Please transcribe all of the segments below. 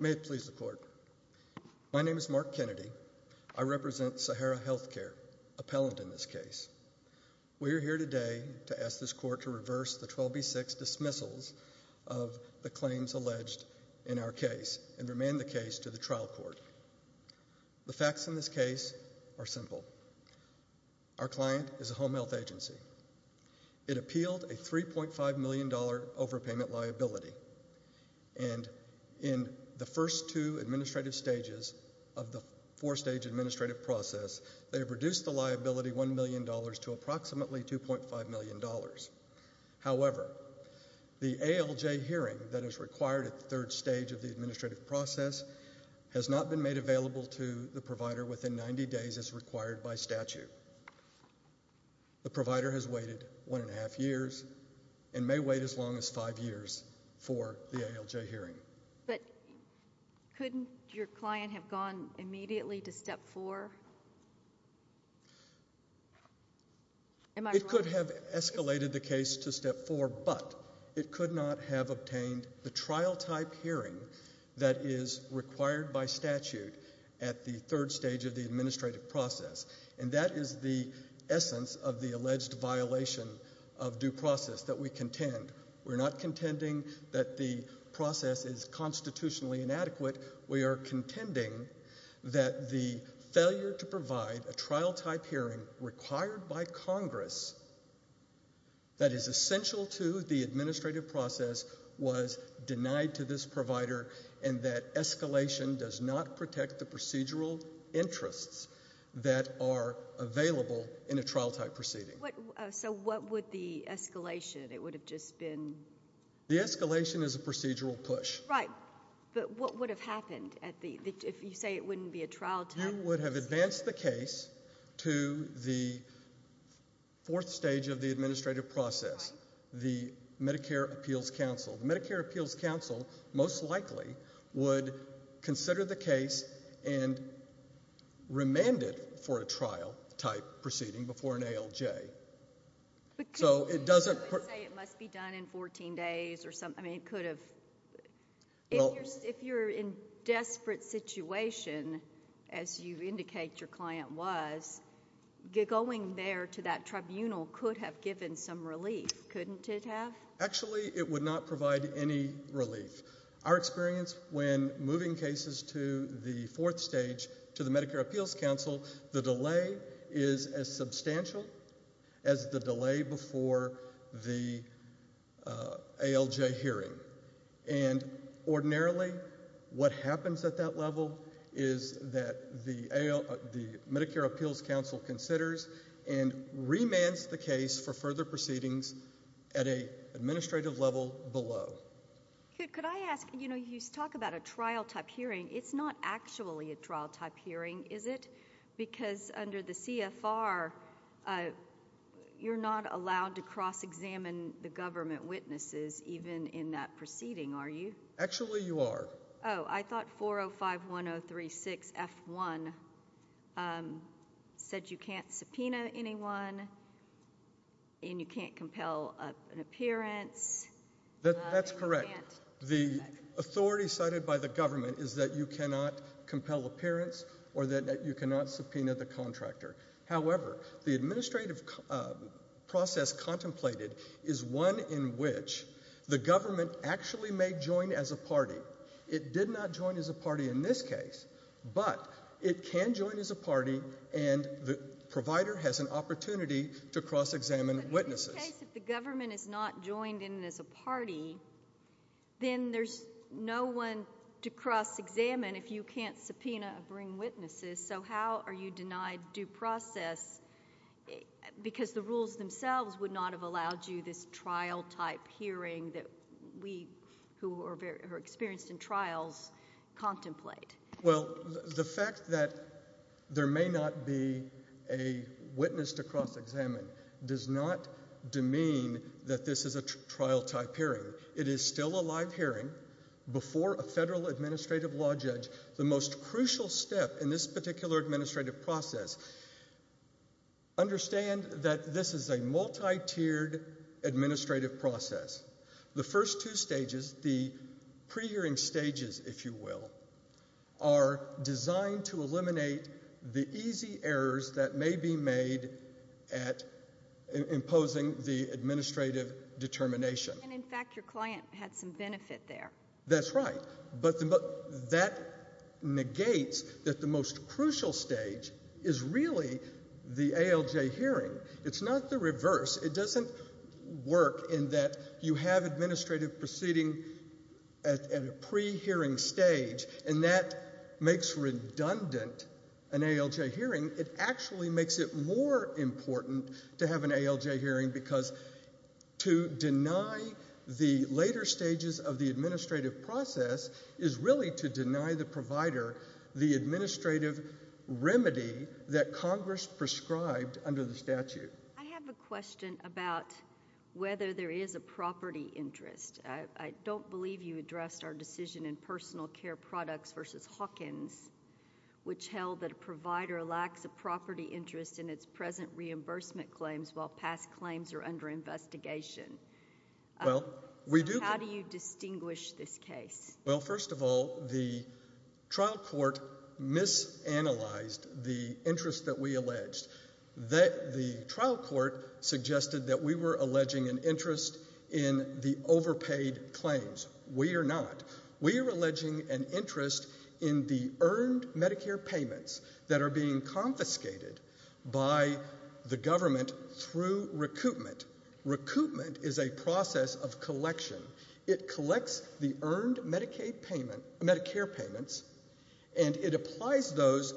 May it please the Court, my name is Mark Kennedy. I represent Sahara Health Care, appellant in this case. We are here today to ask this Court to reverse the 12B6 dismissals of the claims alleged in our case and remand the case to the trial court. The facts in this case are simple. Our client is a home health agency. It appealed a $3.5 million overpayment liability and in the first two administrative stages of the four-stage administrative process, they reduced the liability $1 million to approximately $2.5 million. However, the ALJ hearing that is required at the third stage of the administrative process has not been made available to the provider within 90 days as required by statute. The provider has waited one and a half years and may wait as long as five years for the ALJ hearing. But couldn't your client have gone immediately to step four? It could have escalated the case to step four, but it could not have obtained the trial-type hearing that is required by statute at the third stage of the administrative process. And that is the essence of the alleged violation of due process that we contend. We're not contending that the process is constitutionally inadequate. We are contending that the failure to provide a trial-type hearing required by Congress that is essential to the administrative process was denied to this provider and that escalation does not protect the procedural interests that are available in a trial-type proceeding. So what would the escalation? It would have just been... The escalation is a procedural push. Right. But what would have happened if you say it wouldn't be a trial-type? You would have advanced the case to the fourth stage of the administrative process. Right. The Medicare Appeals Council. The Medicare Appeals Council most likely would consider the case and remand it for a trial-type proceeding before an ALJ. But couldn't you say it must be done in 14 days or something? I mean, it could have... Well... If you're in a desperate situation, as you indicate your client was, going there to that tribunal could have given some relief, couldn't it have? Actually, it would not provide any relief. Our experience when moving cases to the fourth stage to the Medicare Appeals Council, the delay is as substantial as the delay before the ALJ hearing. And ordinarily, what happens at that level is that the Medicare Appeals Council considers and remands the case for further proceedings at an administrative level below. Could I ask... You know, you talk about a trial-type hearing. It's not actually a trial-type hearing, is it? Because under the CFR, you're not allowed to cross-examine the government witnesses even in that proceeding, are you? Actually, you are. Oh, I thought 4051036F1 said you can't subpoena anyone and you can't compel an appearance. That's correct. The authority cited by the government is that you cannot compel appearance or that you cannot subpoena the contractor. However, the administrative process contemplated is one in which the government actually may join as a party. It did not join as a party in this case, but it can join as a party and the provider has an opportunity to cross-examine witnesses. But in this case, if the government is not joined in as a party, then there's no one to cross-examine if you can't subpoena or bring witnesses. So how are you denied due process? Because the rules themselves would not have allowed you this trial-type hearing that we, who are experienced in trials, contemplate. Well, the fact that there may not be a witness to cross-examine does not demean that this is a trial-type hearing. It is still a live hearing before a federal administrative law judge. The most important thing in this particular administrative process, understand that this is a multi-tiered administrative process. The first two stages, the pre-hearing stages, if you will, are designed to eliminate the easy errors that may be made at imposing the administrative determination. And in fact, your client had some benefit there. That's right, but that negates that the most crucial stage is really the ALJ hearing. It's not the reverse. It doesn't work in that you have administrative proceeding at a pre-hearing stage and that makes redundant an ALJ hearing. It actually makes it more important to have an ALJ hearing because to deny the later stages of the hearing is really to deny the provider the administrative remedy that Congress prescribed under the statute. I have a question about whether there is a property interest. I don't believe you addressed our decision in personal care products versus Hawkins, which held that a provider lacks a property interest in its present reimbursement claims while past claims are under investigation. How do you distinguish this case? Well, first of all, the trial court misanalyzed the interest that we alleged. The trial court suggested that we were alleging an interest in the overpaid claims. We are not. We are alleging an interest in the earned Medicare payments that are being confiscated by the federal government. The federal government is a process of collection. It collects the earned Medicare payments and it applies those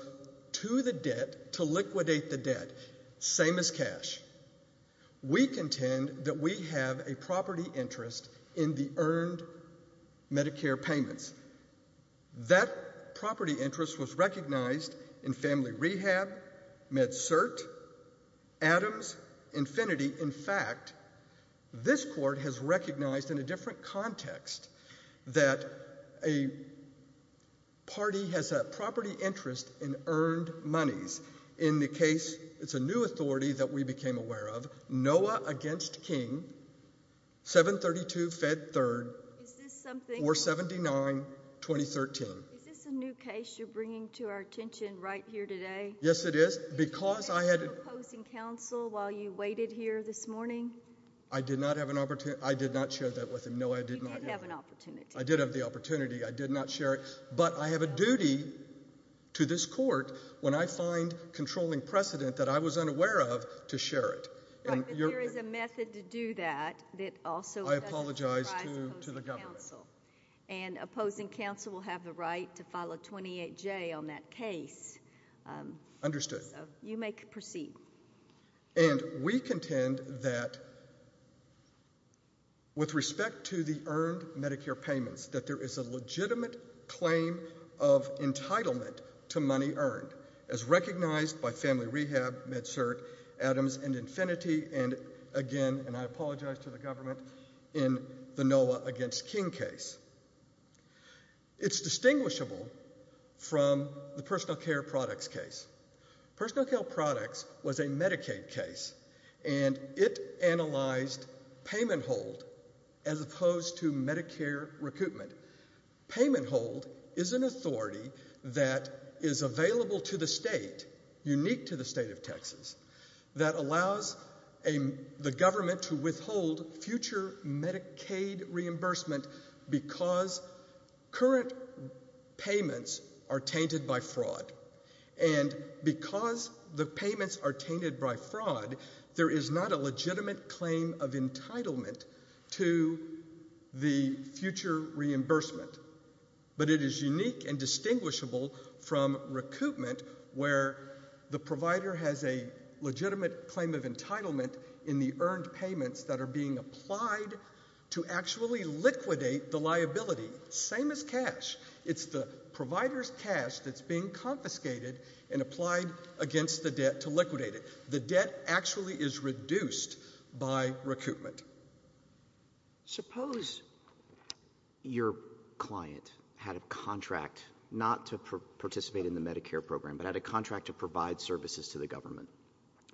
to the debt to liquidate the debt, same as cash. We contend that we have a property interest in the earned Medicare payments. That property interest was recognized in Family Rehab, MedCert, Adams, Infinity. In fact, this court has recognized in a different context that a party has a property interest in earned monies. In the case, it's a new authority that we became aware of, NOAA against King, 732 Fed 3rd, 479, 2013. Is this a new case you're bringing to our attention while you waited here this morning? I did not have an opportunity. I did not share that with him, NOAA. You did have an opportunity. I did have the opportunity. I did not share it, but I have a duty to this court when I find controlling precedent that I was unaware of to share it. Right, but there is a method to do that that also doesn't surprise opposing counsel. I apologize to the government. And opposing counsel will have the right to file a 28-J on that case. Understood. You may proceed. And we contend that with respect to the earned Medicare payments, that there is a legitimate claim of entitlement to money earned as recognized by Family Rehab, MedCert, Adams, and Infinity, and again, and I apologize to the government, in the NOAA against King case. It's distinguishable from the personal care products case. Personal care products was a Medicaid case, and it analyzed payment hold as opposed to Medicare recoupment. Payment hold is an authority that is available to the state, unique to the state of Texas, that allows the government to withhold future Medicaid reimbursement because current payments are tainted by fraud. And because the payments are tainted by fraud, there is not a legitimate claim of entitlement to the future reimbursement. But it is unique and distinguishable from recoupment where the provider has a legitimate claim of entitlement in the earned payments that are being applied to actually liquidate the liability, same as cash. It's the provider's cash that's being confiscated and applied against the debt to liquidate it. The debt actually is reduced by recoupment. So, suppose your client had a contract, not to participate in the Medicare program, but had a contract to provide services to the government.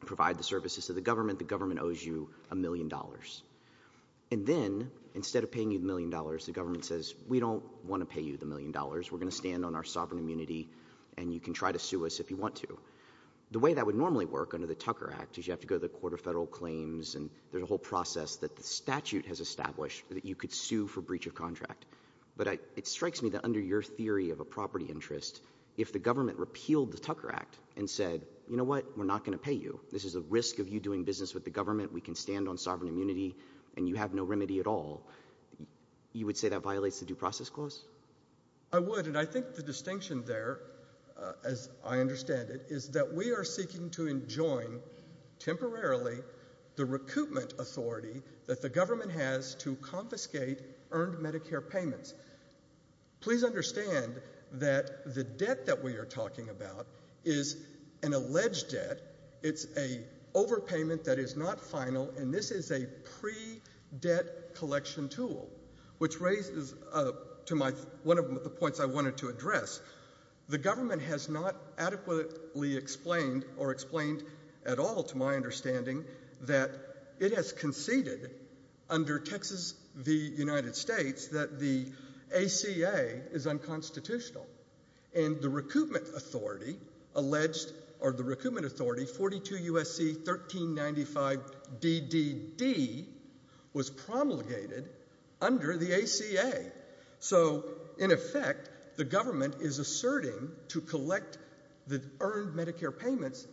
Provide the services to the government, the government owes you a million dollars. And then, instead of paying you the million dollars, the government says, we don't want to pay you the million dollars, we're going to stand on our sovereign immunity, and you can try to sue us if you want to. The way that would normally work under the Tucker Act is you have to go to the Court of Federal Claims, and there's a whole process that the statute has established that you could sue for breach of contract. But it strikes me that under your theory of a property interest, if the government repealed the Tucker Act and said, you know what, we're not going to pay you, this is a risk of you doing business with the government, we can stand on sovereign immunity, and you have no remedy at all, you would say that violates the Due Process Clause? I would, and I think the distinction there, as I understand it, is that we are seeking to enjoin, temporarily, the recoupment authority that the government has to confiscate earned Medicare payments. Please understand that the debt that we are talking about is an alleged debt. It's an overpayment that is not final, and this is a pre-debt collection tool, which raises, to one of the points I wanted to address, the government has not adequately explained, or explained at all, to my understanding, that it has conceded, under Texas v. United States, that the ACA is unconstitutional. And the recoupment authority, alleged, or the recoupment authority, 42 U.S.C. 1395 D.D.D., was promulgated under the ACA. So, in effect, the government is asserting to collect the earned Medicare payments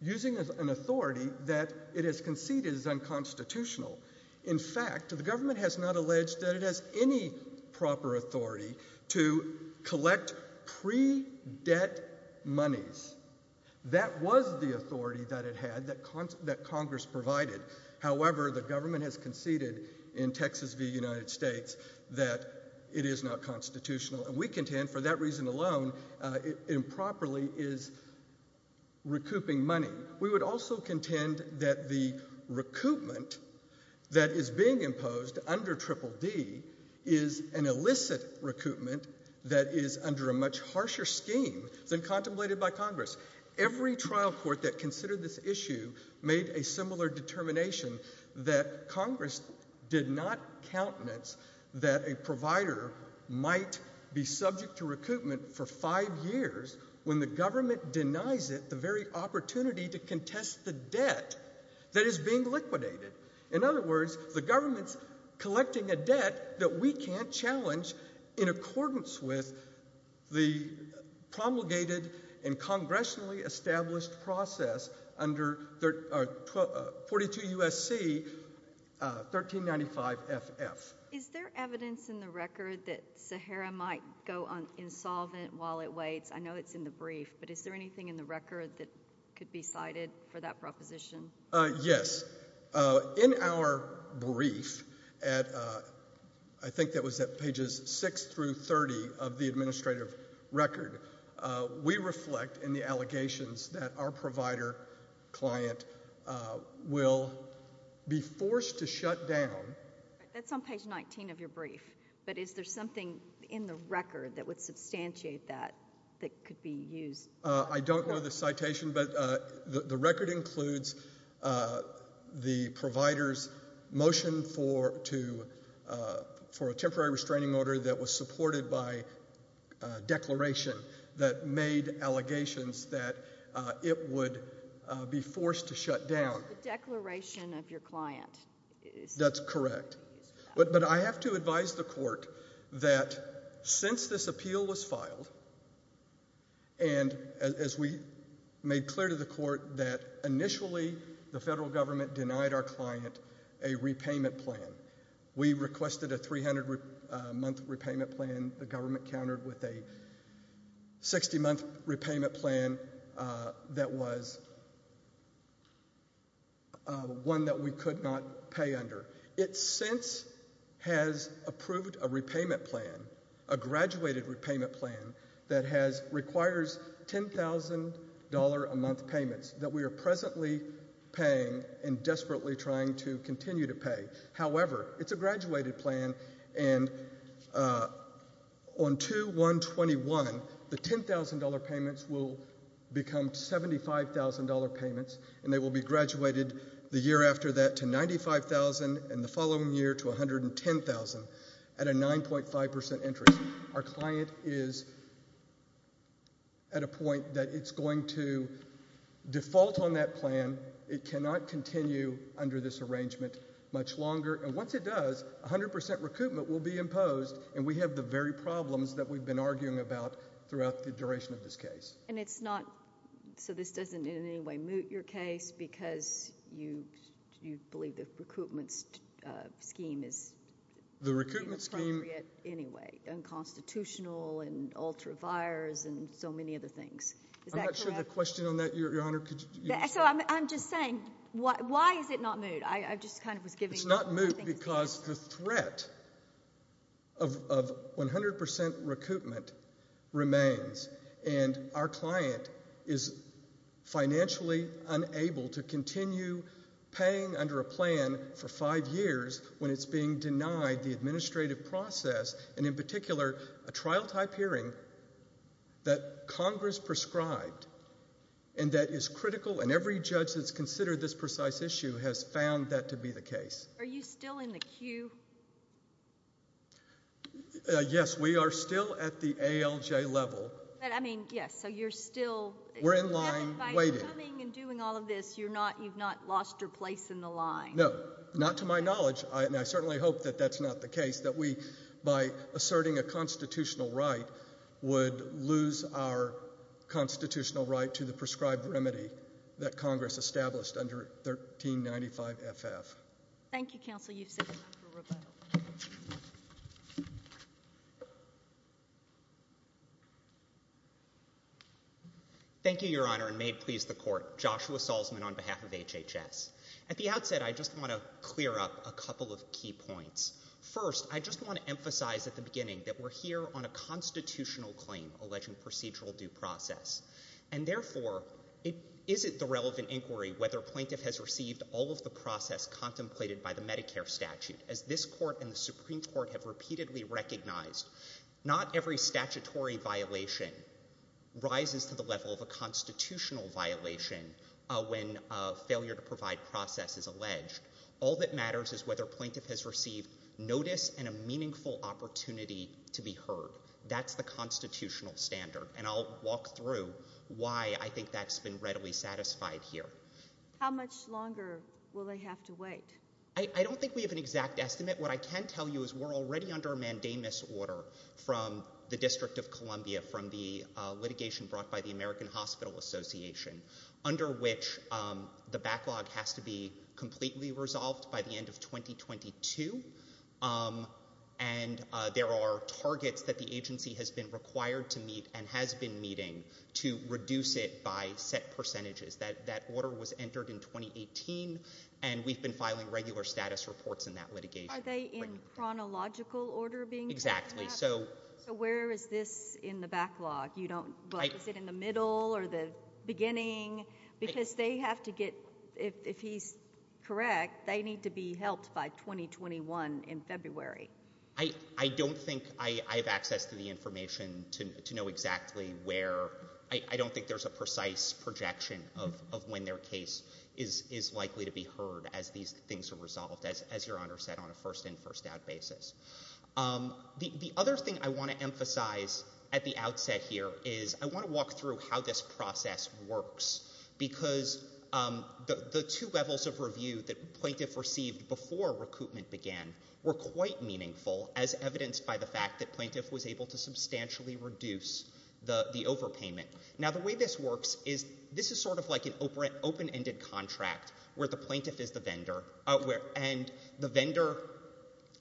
using an authority that it has conceded is unconstitutional. In fact, the government has not alleged that it has any proper authority to collect pre-debt monies. That was the authority that it had, that Congress provided. However, the government has conceded, in Texas v. United States, that it is not constitutional. And we contend, for that reason alone, it improperly is recouping money. We would also contend that the recoupment that is being imposed under Triple D is an illicit recoupment that is under a much harsher scheme than contemplated by Congress. Every trial court that considered this issue made a similar determination that Congress did not countenance that a provider might be subject to recoupment for five years when the government denies it the very opportunity to contest the debt that is being liquidated. In other words, the government's collecting a debt that we can't challenge in accordance with the promulgated and congressionally established process under 42 U.S.C. 1395 F.F. Is there evidence in the record that Sahara might go insolvent while it waits? I know it's in the brief, but is there anything in the record that could be cited for that proposition? Yes. In our brief, I think that was at pages 6 through 30 of the administrative record, we reflect in the allegations that our provider client will be forced to shut down. That's on page 19 of your brief, but is there something in the record that would substantiate that, that could be used? I don't know the citation, but the record includes the provider's motion for a temporary restraining order that was supported by declaration that made allegations that it would be forced to shut down. The declaration of your client. That's correct. But I have to advise the court that since this appeal was filed, and as we made clear to the court that initially the federal government denied our client a repayment plan, we requested a 300 month repayment plan, the government countered with a 60 month repayment plan that was one that we could not pay under. It since has approved a repayment plan, a graduated repayment plan that requires $10,000 a month payments that we are presently paying and desperately trying to continue to pay. However, it's a graduated plan and on 2-1-21, the $10,000 payments will become $75,000 payments and they will be graduated the year after that to $95,000 and the following year to $110,000 at a 9.5% interest. Our client is at a point that it's going to default on that plan. It cannot continue under this arrangement much longer. And once it does, 100% recoupment will be imposed and we have the very problems that we've been arguing about throughout the duration of this case. And it's not, so this doesn't in any way moot your case because you believe the recoupment scheme is inappropriate anyway, unconstitutional and ultra-vires and so many other things. I'm not sure of the question on that, Your Honor. So I'm just saying, why is it not moot? It's not moot because the threat of 100% recoupment remains and our client is financially unable to continue paying under a plan for five years when it's being denied the administrative process and in particular, a trial-type hearing that Congress prescribed and that is critical. And every judge that's considered this precise issue has found that to be the case. Are you still in the queue? Yes, we are still at the ALJ level. But I mean, yes, so you're still- We're in line waiting. By coming and doing all of this, you've not lost your place in the line. No, not to my knowledge. And I certainly hope that that's not the case, that we, by asserting a constitutional right, would lose our constitutional right to the prescribed remedy that Congress established under 1395 FF. Thank you, Counsel. You've set the record on the record. Thank you, Your Honor, and may it please the Court. Joshua Salzman on behalf of HHS. At the outset, I just want to clear up a couple of key points. First, I just want to emphasize at the beginning that we're here on a constitutional claim alleging procedural due process. And therefore, is it the relevant inquiry whether a plaintiff has received all of the process contemplated by the Medicare statute? As this Court and the Supreme Court have repeatedly recognized, not every statutory violation rises to the level of a constitutional violation when a failure to provide process is alleged. All that matters is whether a plaintiff has received notice and a meaningful opportunity to be heard. That's the constitutional standard. And I'll walk through why I think that's been readily satisfied here. How much longer will they have to wait? I don't think we have an exact estimate. What I can tell you is we're already under a mandamus order from the District of Columbia from the litigation brought by the American Hospital Association, under which the backlog has to be completely resolved by the end of 2022. And there are targets that the agency has been required to meet and has been meeting to reduce it by set percentages. That order was entered in 2018, and we've been filing regular status reports in that litigation. Are they in chronological order being called? Exactly. So where is this in the backlog? Is it in the middle or the beginning? Because they have to get, if he's correct, they need to be helped by 2021 in February. I don't think I have access to the information to know exactly where. I don't think there's a precise projection of when their case is likely to be heard as these things are resolved, as Your Honor said, on a first-in, first-out basis. The other thing I want to emphasize at the outset here is I want to walk through how this process works. Because the two levels of review that plaintiff received before recoupment began were quite meaningful, as evidenced by the fact that plaintiff was able to substantially reduce the overpayment. Now, the way this works is this is sort of like an open-ended contract where the plaintiff is the vendor, and the vendor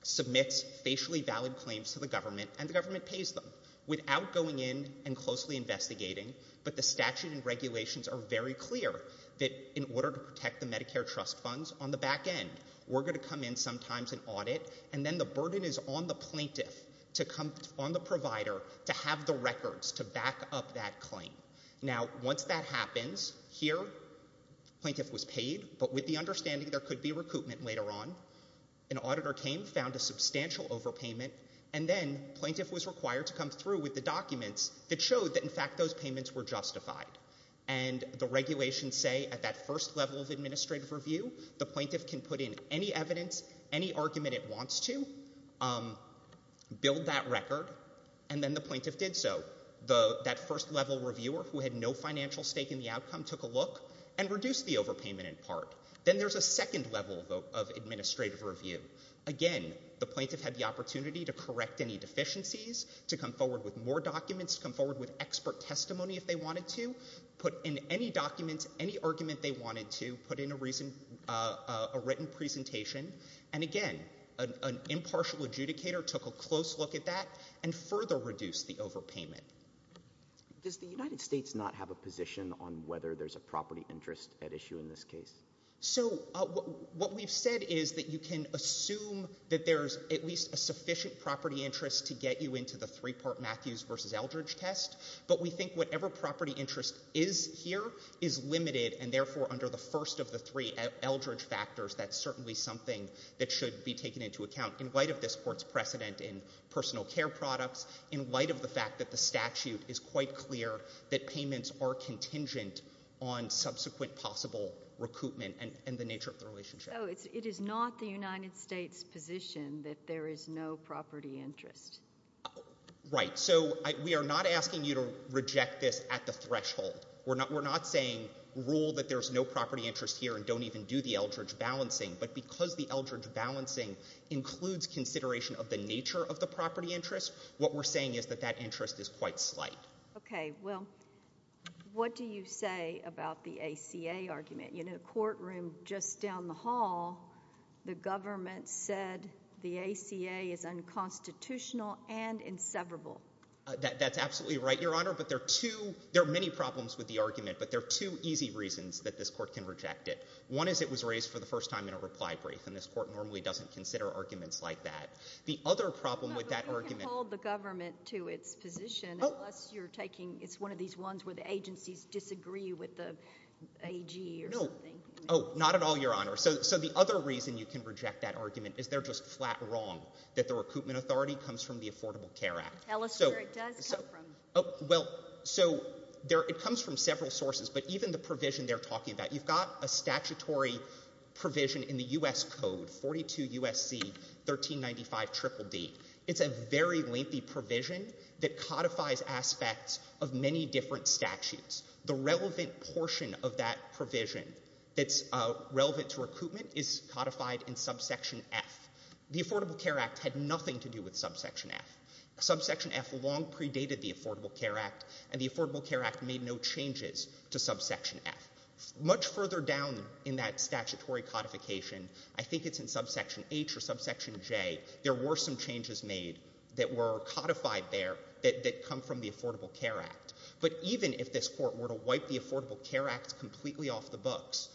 submits facially valid claims to the government, and the government pays them without going in and closely investigating. But the statute and regulations are very clear that in order to protect the Medicare trust funds on the back end, we're going to come in sometimes and audit, and then the burden is on the plaintiff to come on the provider to have the records to back up that claim. Now, once that happens, here, plaintiff was paid, but with the understanding there could be recoupment later on, an auditor came, found a substantial overpayment, and then plaintiff was required to come through with the documents that showed that, in fact, those payments were justified. And the regulations say at that first level of administrative review, the plaintiff can put in any evidence, any argument it wants to, build that record, and then the plaintiff did so. That first-level reviewer who had no financial stake in the outcome took a look and reduced the overpayment in part. Then there's a second level of administrative review. Again, the plaintiff had the opportunity to correct any deficiencies, to come forward with more documents, come forward with expert testimony if they wanted to, put in any documents, any argument they wanted to, put in a written presentation. And again, an impartial adjudicator took a close look at that and further reduced the overpayment. Does the United States not have a position on whether there's a property interest at issue in this case? So what we've said is that you can assume that there's at least a sufficient property interest to get you into the three-part Matthews versus Eldridge test, but we think whatever property interest is here is limited, and therefore, under the first of the three Eldridge factors, that's certainly something that should be taken into account in light of this Court's precedent in personal care products, in light of the fact that the statute is quite clear that payments are contingent on subsequent possible recoupment and the nature of the relationship. So it is not the United States' position that there is no property interest? Right. So we are not asking you to reject this at the threshold. We're not saying rule that there's no property interest here and don't even do the Eldridge balancing, but because the Eldridge balancing includes consideration of the nature of the property interest, what we're saying is that that interest is quite slight. Okay. Well, what do you say about the ACA argument? You know, the courtroom just down the hall, the government said the ACA is unconstitutional and inseverable. That's absolutely right, Your Honor, but there are many problems with the argument, but there are two easy reasons that this Court can reject it. One is it was raised for the first time in a reply brief, and this Court normally doesn't consider arguments like that. The other problem with that argument— No, but you can hold the government to its position, unless you're taking—it's one of these ones where the agencies disagree with the argument. Oh, not at all, Your Honor. So the other reason you can reject that argument is they're just flat wrong that the recoupment authority comes from the Affordable Care Act. Tell us where it does come from. Well, so it comes from several sources, but even the provision they're talking about, you've got a statutory provision in the U.S. Code, 42 U.S.C. 1395 DDD. It's a very lengthy provision that codifies aspects of many different statutes. The relevant portion of that provision that's relevant to recoupment is codified in Subsection F. The Affordable Care Act had nothing to do with Subsection F. Subsection F long predated the Affordable Care Act, and the Affordable Care Act made no changes to Subsection F. Much further down in that statutory codification—I think it's in Subsection H or Subsection J—there were some changes made that were codified there that come from the Affordable Care Act. But even if this Court were to wipe the Affordable Care Act completely off the books,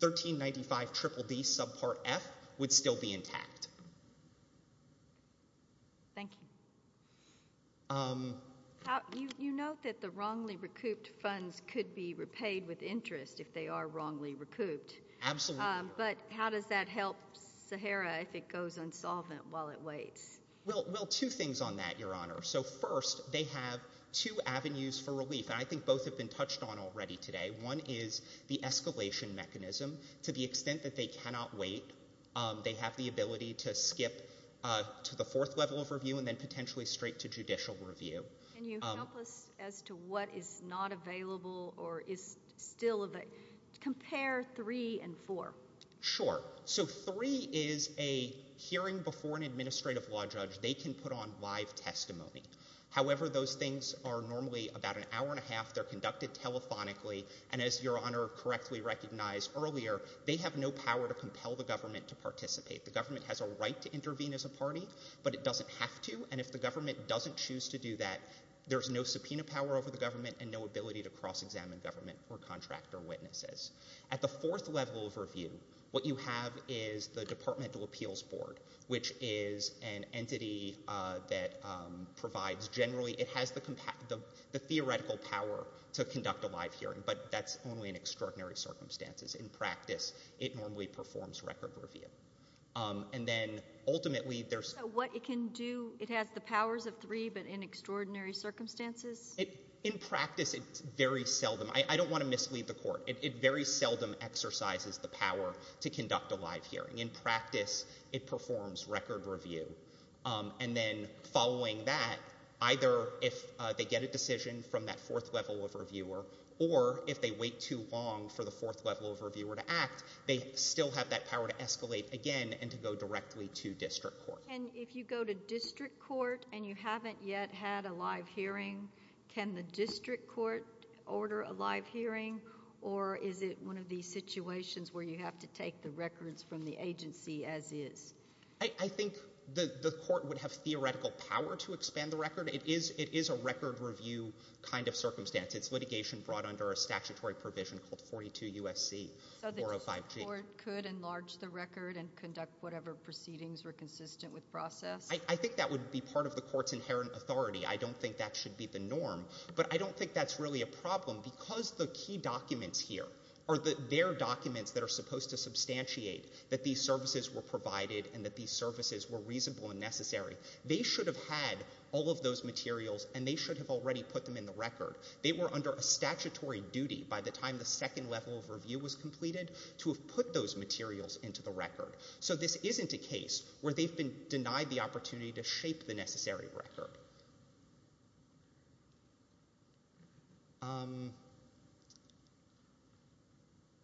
1395 DDD Subpart F would still be intact. Thank you. You note that the wrongly recouped funds could be repaid with interest if they are wrongly recouped. Absolutely. But how does that help Sahara if it goes unsolvent while it waits? Well, two things on that, Your Honor. So first, they have two avenues for relief, and I think both have been touched on already today. One is the escalation mechanism. To the extent that they cannot wait, they have the ability to skip to the fourth level of review and then potentially straight to judicial review. Can you help us as to what is not available or is still available? Compare three and four. Sure. So three is a hearing before an administrative law judge. They can put on live testimony. However, those things are normally about an hour and a half. They're conducted telephonically. And as Your Honor correctly recognized earlier, they have no power to compel the government to participate. The government has a right to intervene as a party, but it doesn't have to. And if the government doesn't choose to do that, there's no subpoena power over the government and no ability to cross-examine government or contractor witnesses. At the fourth level of review, what you have is the Departmental Entity that provides—generally, it has the theoretical power to conduct a live hearing, but that's only in extraordinary circumstances. In practice, it normally performs record review. And then ultimately, there's— So what it can do, it has the powers of three, but in extraordinary circumstances? In practice, it's very seldom—I don't want to mislead the Court—it very seldom exercises the power to conduct a live hearing. In practice, it performs record review. And then following that, either if they get a decision from that fourth level of reviewer, or if they wait too long for the fourth level of reviewer to act, they still have that power to escalate again and to go directly to district court. And if you go to district court and you haven't yet had a live hearing, can the district court order a live hearing, or is it one of these situations where you have to take the records from the agency as is? I think the Court would have theoretical power to expand the record. It is a record review kind of circumstance. It's litigation brought under a statutory provision called 42 U.S.C. 405G. So the district court could enlarge the record and conduct whatever proceedings were consistent with process? I think that would be part of the Court's inherent authority. I don't think that should be the norm. But I don't think that's really a problem because the key documents here are their documents that are supposed to substantiate that these services were provided and that these services were reasonable and necessary. They should have had all of those materials and they should have already put them in the record. They were under a statutory duty by the time the second level of review was completed to have put those materials into the record. So this isn't a case where they've been denied the opportunity to shape the necessary record.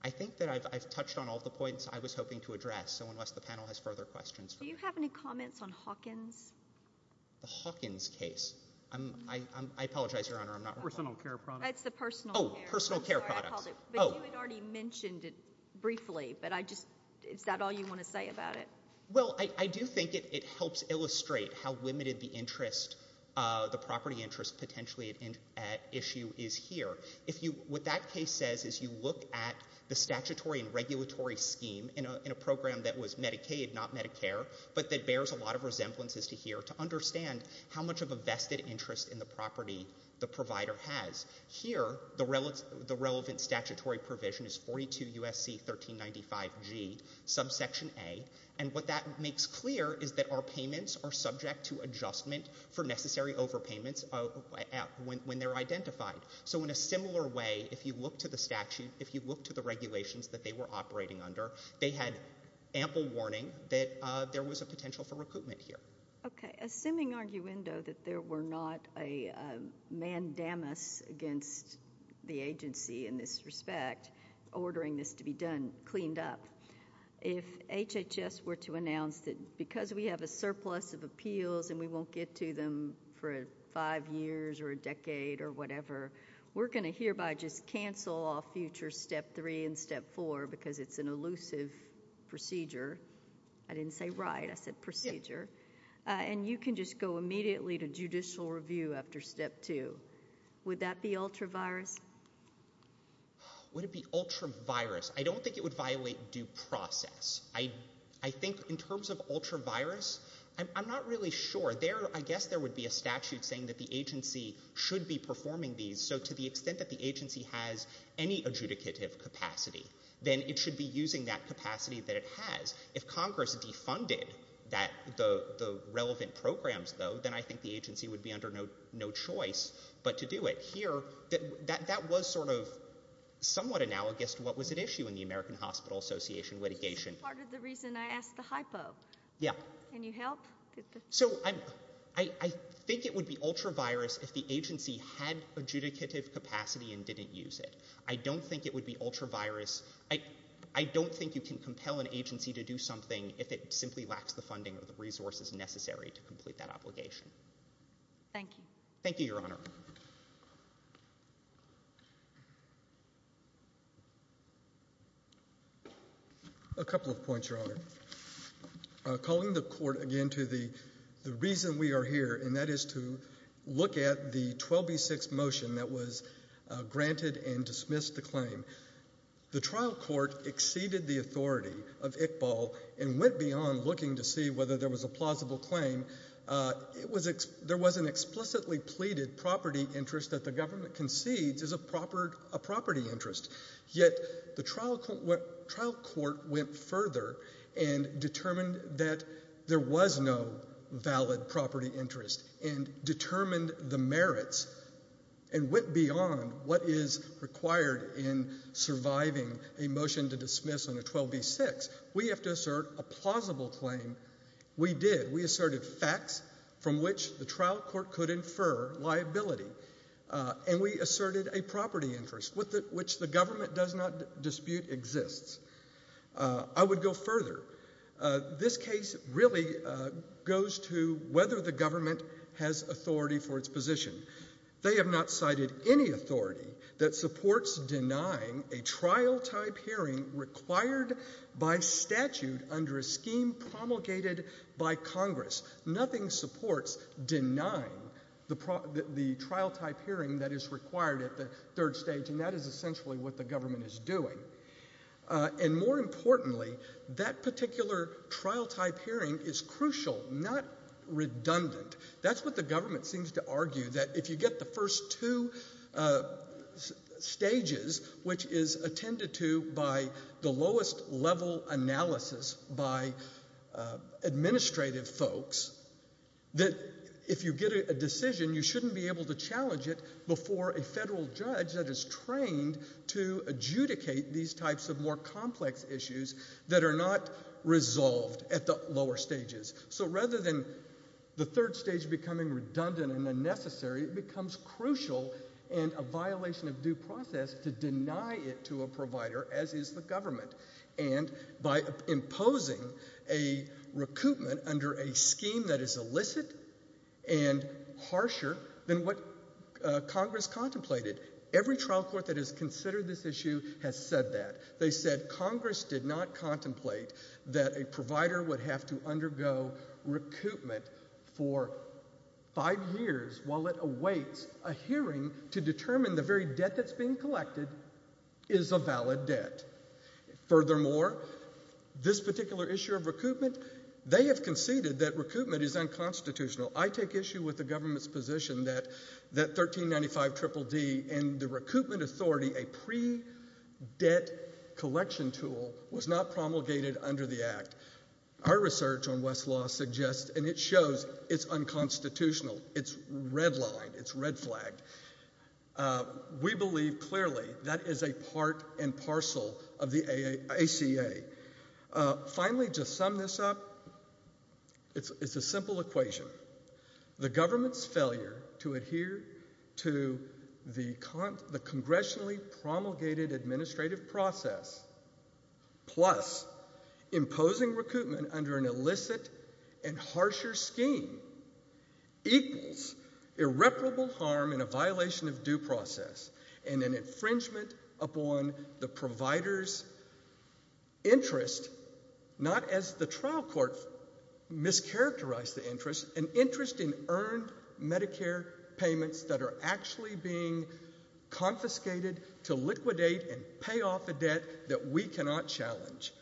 I think that I've touched on all of the points I was hoping to address, so unless the panel has further questions. Do you have any comments on Hawkins? The Hawkins case. I apologize, Your Honor, I'm not aware of that. Personal care products. That's the personal care. Oh, personal care products. Sorry, I called it. But you had already mentioned it briefly, but is that all you want to say about it? Well, I do think it helps illustrate how limited the property interest potentially at issue is here. What that case says is you look at the statutory and regulatory scheme in a program that was Medicaid, not Medicare, but that bears a lot of resemblances to here to understand how much of a vested interest in the property the provider has. Here, the relevant statutory provision is 42 U.S.C. 1395G, subsection A, and what that makes clear is that our payments are subject to adjustment for necessary overpayments when they're identified. So in a similar way, if you look to the statute, if you look to the regulations that they were operating under, they had ample warning that there was a potential for recoupment here. Okay. Assuming, arguendo, that there were not a mandamus against the agency in this respect, ordering this to be done, cleaned up, if HHS were to announce that because we have a surplus of appeals and we won't get to them for five years or a decade or whatever, we're going to hereby just cancel off future step three and step four because it's an elusive procedure. I didn't say right. I said procedure. And you can just go immediately to judicial review after step two. Would that be ultra-virus? Would it be ultra-virus? I don't think it would violate due process. I think in terms of ultra-virus, I'm not really sure. I guess there would be a statute saying that the agency should be performing these. So to the extent that the agency has any adjudicative capacity, then it should be using that capacity that it has. If Congress defunded the relevant programs, though, then I think the agency would be under no choice but to do it. Here, that was sort of somewhat analogous to what was at issue in the American Hospital Association litigation. This is part of the reason I asked the hypo. Yeah. Can you help? So I think it would be ultra-virus if the agency had adjudicative capacity and didn't use it. I don't think it would be ultra-virus. I don't think you can compel an agency to do something if it simply lacks the funding or the resources necessary to complete that obligation. Thank you. Thank you, Your Honor. A couple of points, Your Honor. Calling the court again to the reason we are here, and that is to look at the 12B6 motion that was granted and dismissed the claim. The trial court exceeded the authority of Iqbal and went beyond looking to see whether there was a plausible claim. There was an explicitly pleaded property interest that the government concedes is a property interest, yet the trial court went further and determined that there was no valid property interest and determined the merits and went beyond what is required in surviving a motion to dismiss a 12B6. We have to assert a plausible claim. We did. We asserted facts from which the trial court could infer liability. And we asserted a property interest, which the government does not dispute exists. I would go further. This case really goes to whether the government has authority for its position. They have not cited any authority that supports denying a trial-type hearing required by statute under a scheme promulgated by Congress. Nothing supports denying the trial-type hearing that is required at the third stage, and that is essentially what the government is doing. And more importantly, that particular trial-type hearing is crucial, not redundant. That's what the government seems to argue, that if you get the first two stages, which is attended to by the lowest-level analysis by administrative folks, that if you get a decision, you shouldn't be able to challenge it before a federal judge that is trained to adjudicate these types of more complex issues that are not resolved at the lower stages. So rather than the third stage becoming redundant and unnecessary, it becomes crucial and a violation of due process to deny it to a provider, as is the government, and by imposing a recoupment under a scheme that is illicit and harsher than what Congress contemplated. Every trial court that has considered this issue has said that. They said Congress did not contemplate that a provider would have to undergo recoupment for five years while it awaits a hearing to determine the very debt that's being collected is a valid debt. Furthermore, this particular issue of recoupment, they have conceded that recoupment is unconstitutional. I take issue with the government's position that that 1395 Triple D and the recoupment authority, a pre-debt collection tool, was not promulgated under the Act. Our research on Westlaw suggests, and it shows, it's unconstitutional. It's redlined. It's red flagged. We believe clearly that is a part and parcel of the ACA. Finally, to sum this up, it's a simple equation. The government's failure to adhere to the congressionally promulgated administrative process plus imposing recoupment under an illicit and harsher scheme equals irreparable harm in a violation of due process and an infringement upon the provider's interest, not as the trial court mischaracterized the interest, an interest in earned Medicare payments that are actually being confiscated to liquidate and pay off a debt that we cannot challenge.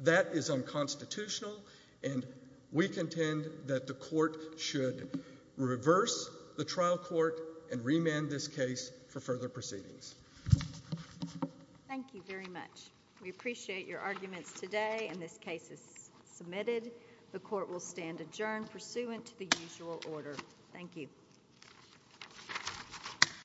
That is unconstitutional and we contend that the court should reverse the trial court and remand this case for further proceedings. Thank you very much. We appreciate your arguments today and this case is submitted. The court will stand adjourned pursuant to the usual order. Thank you.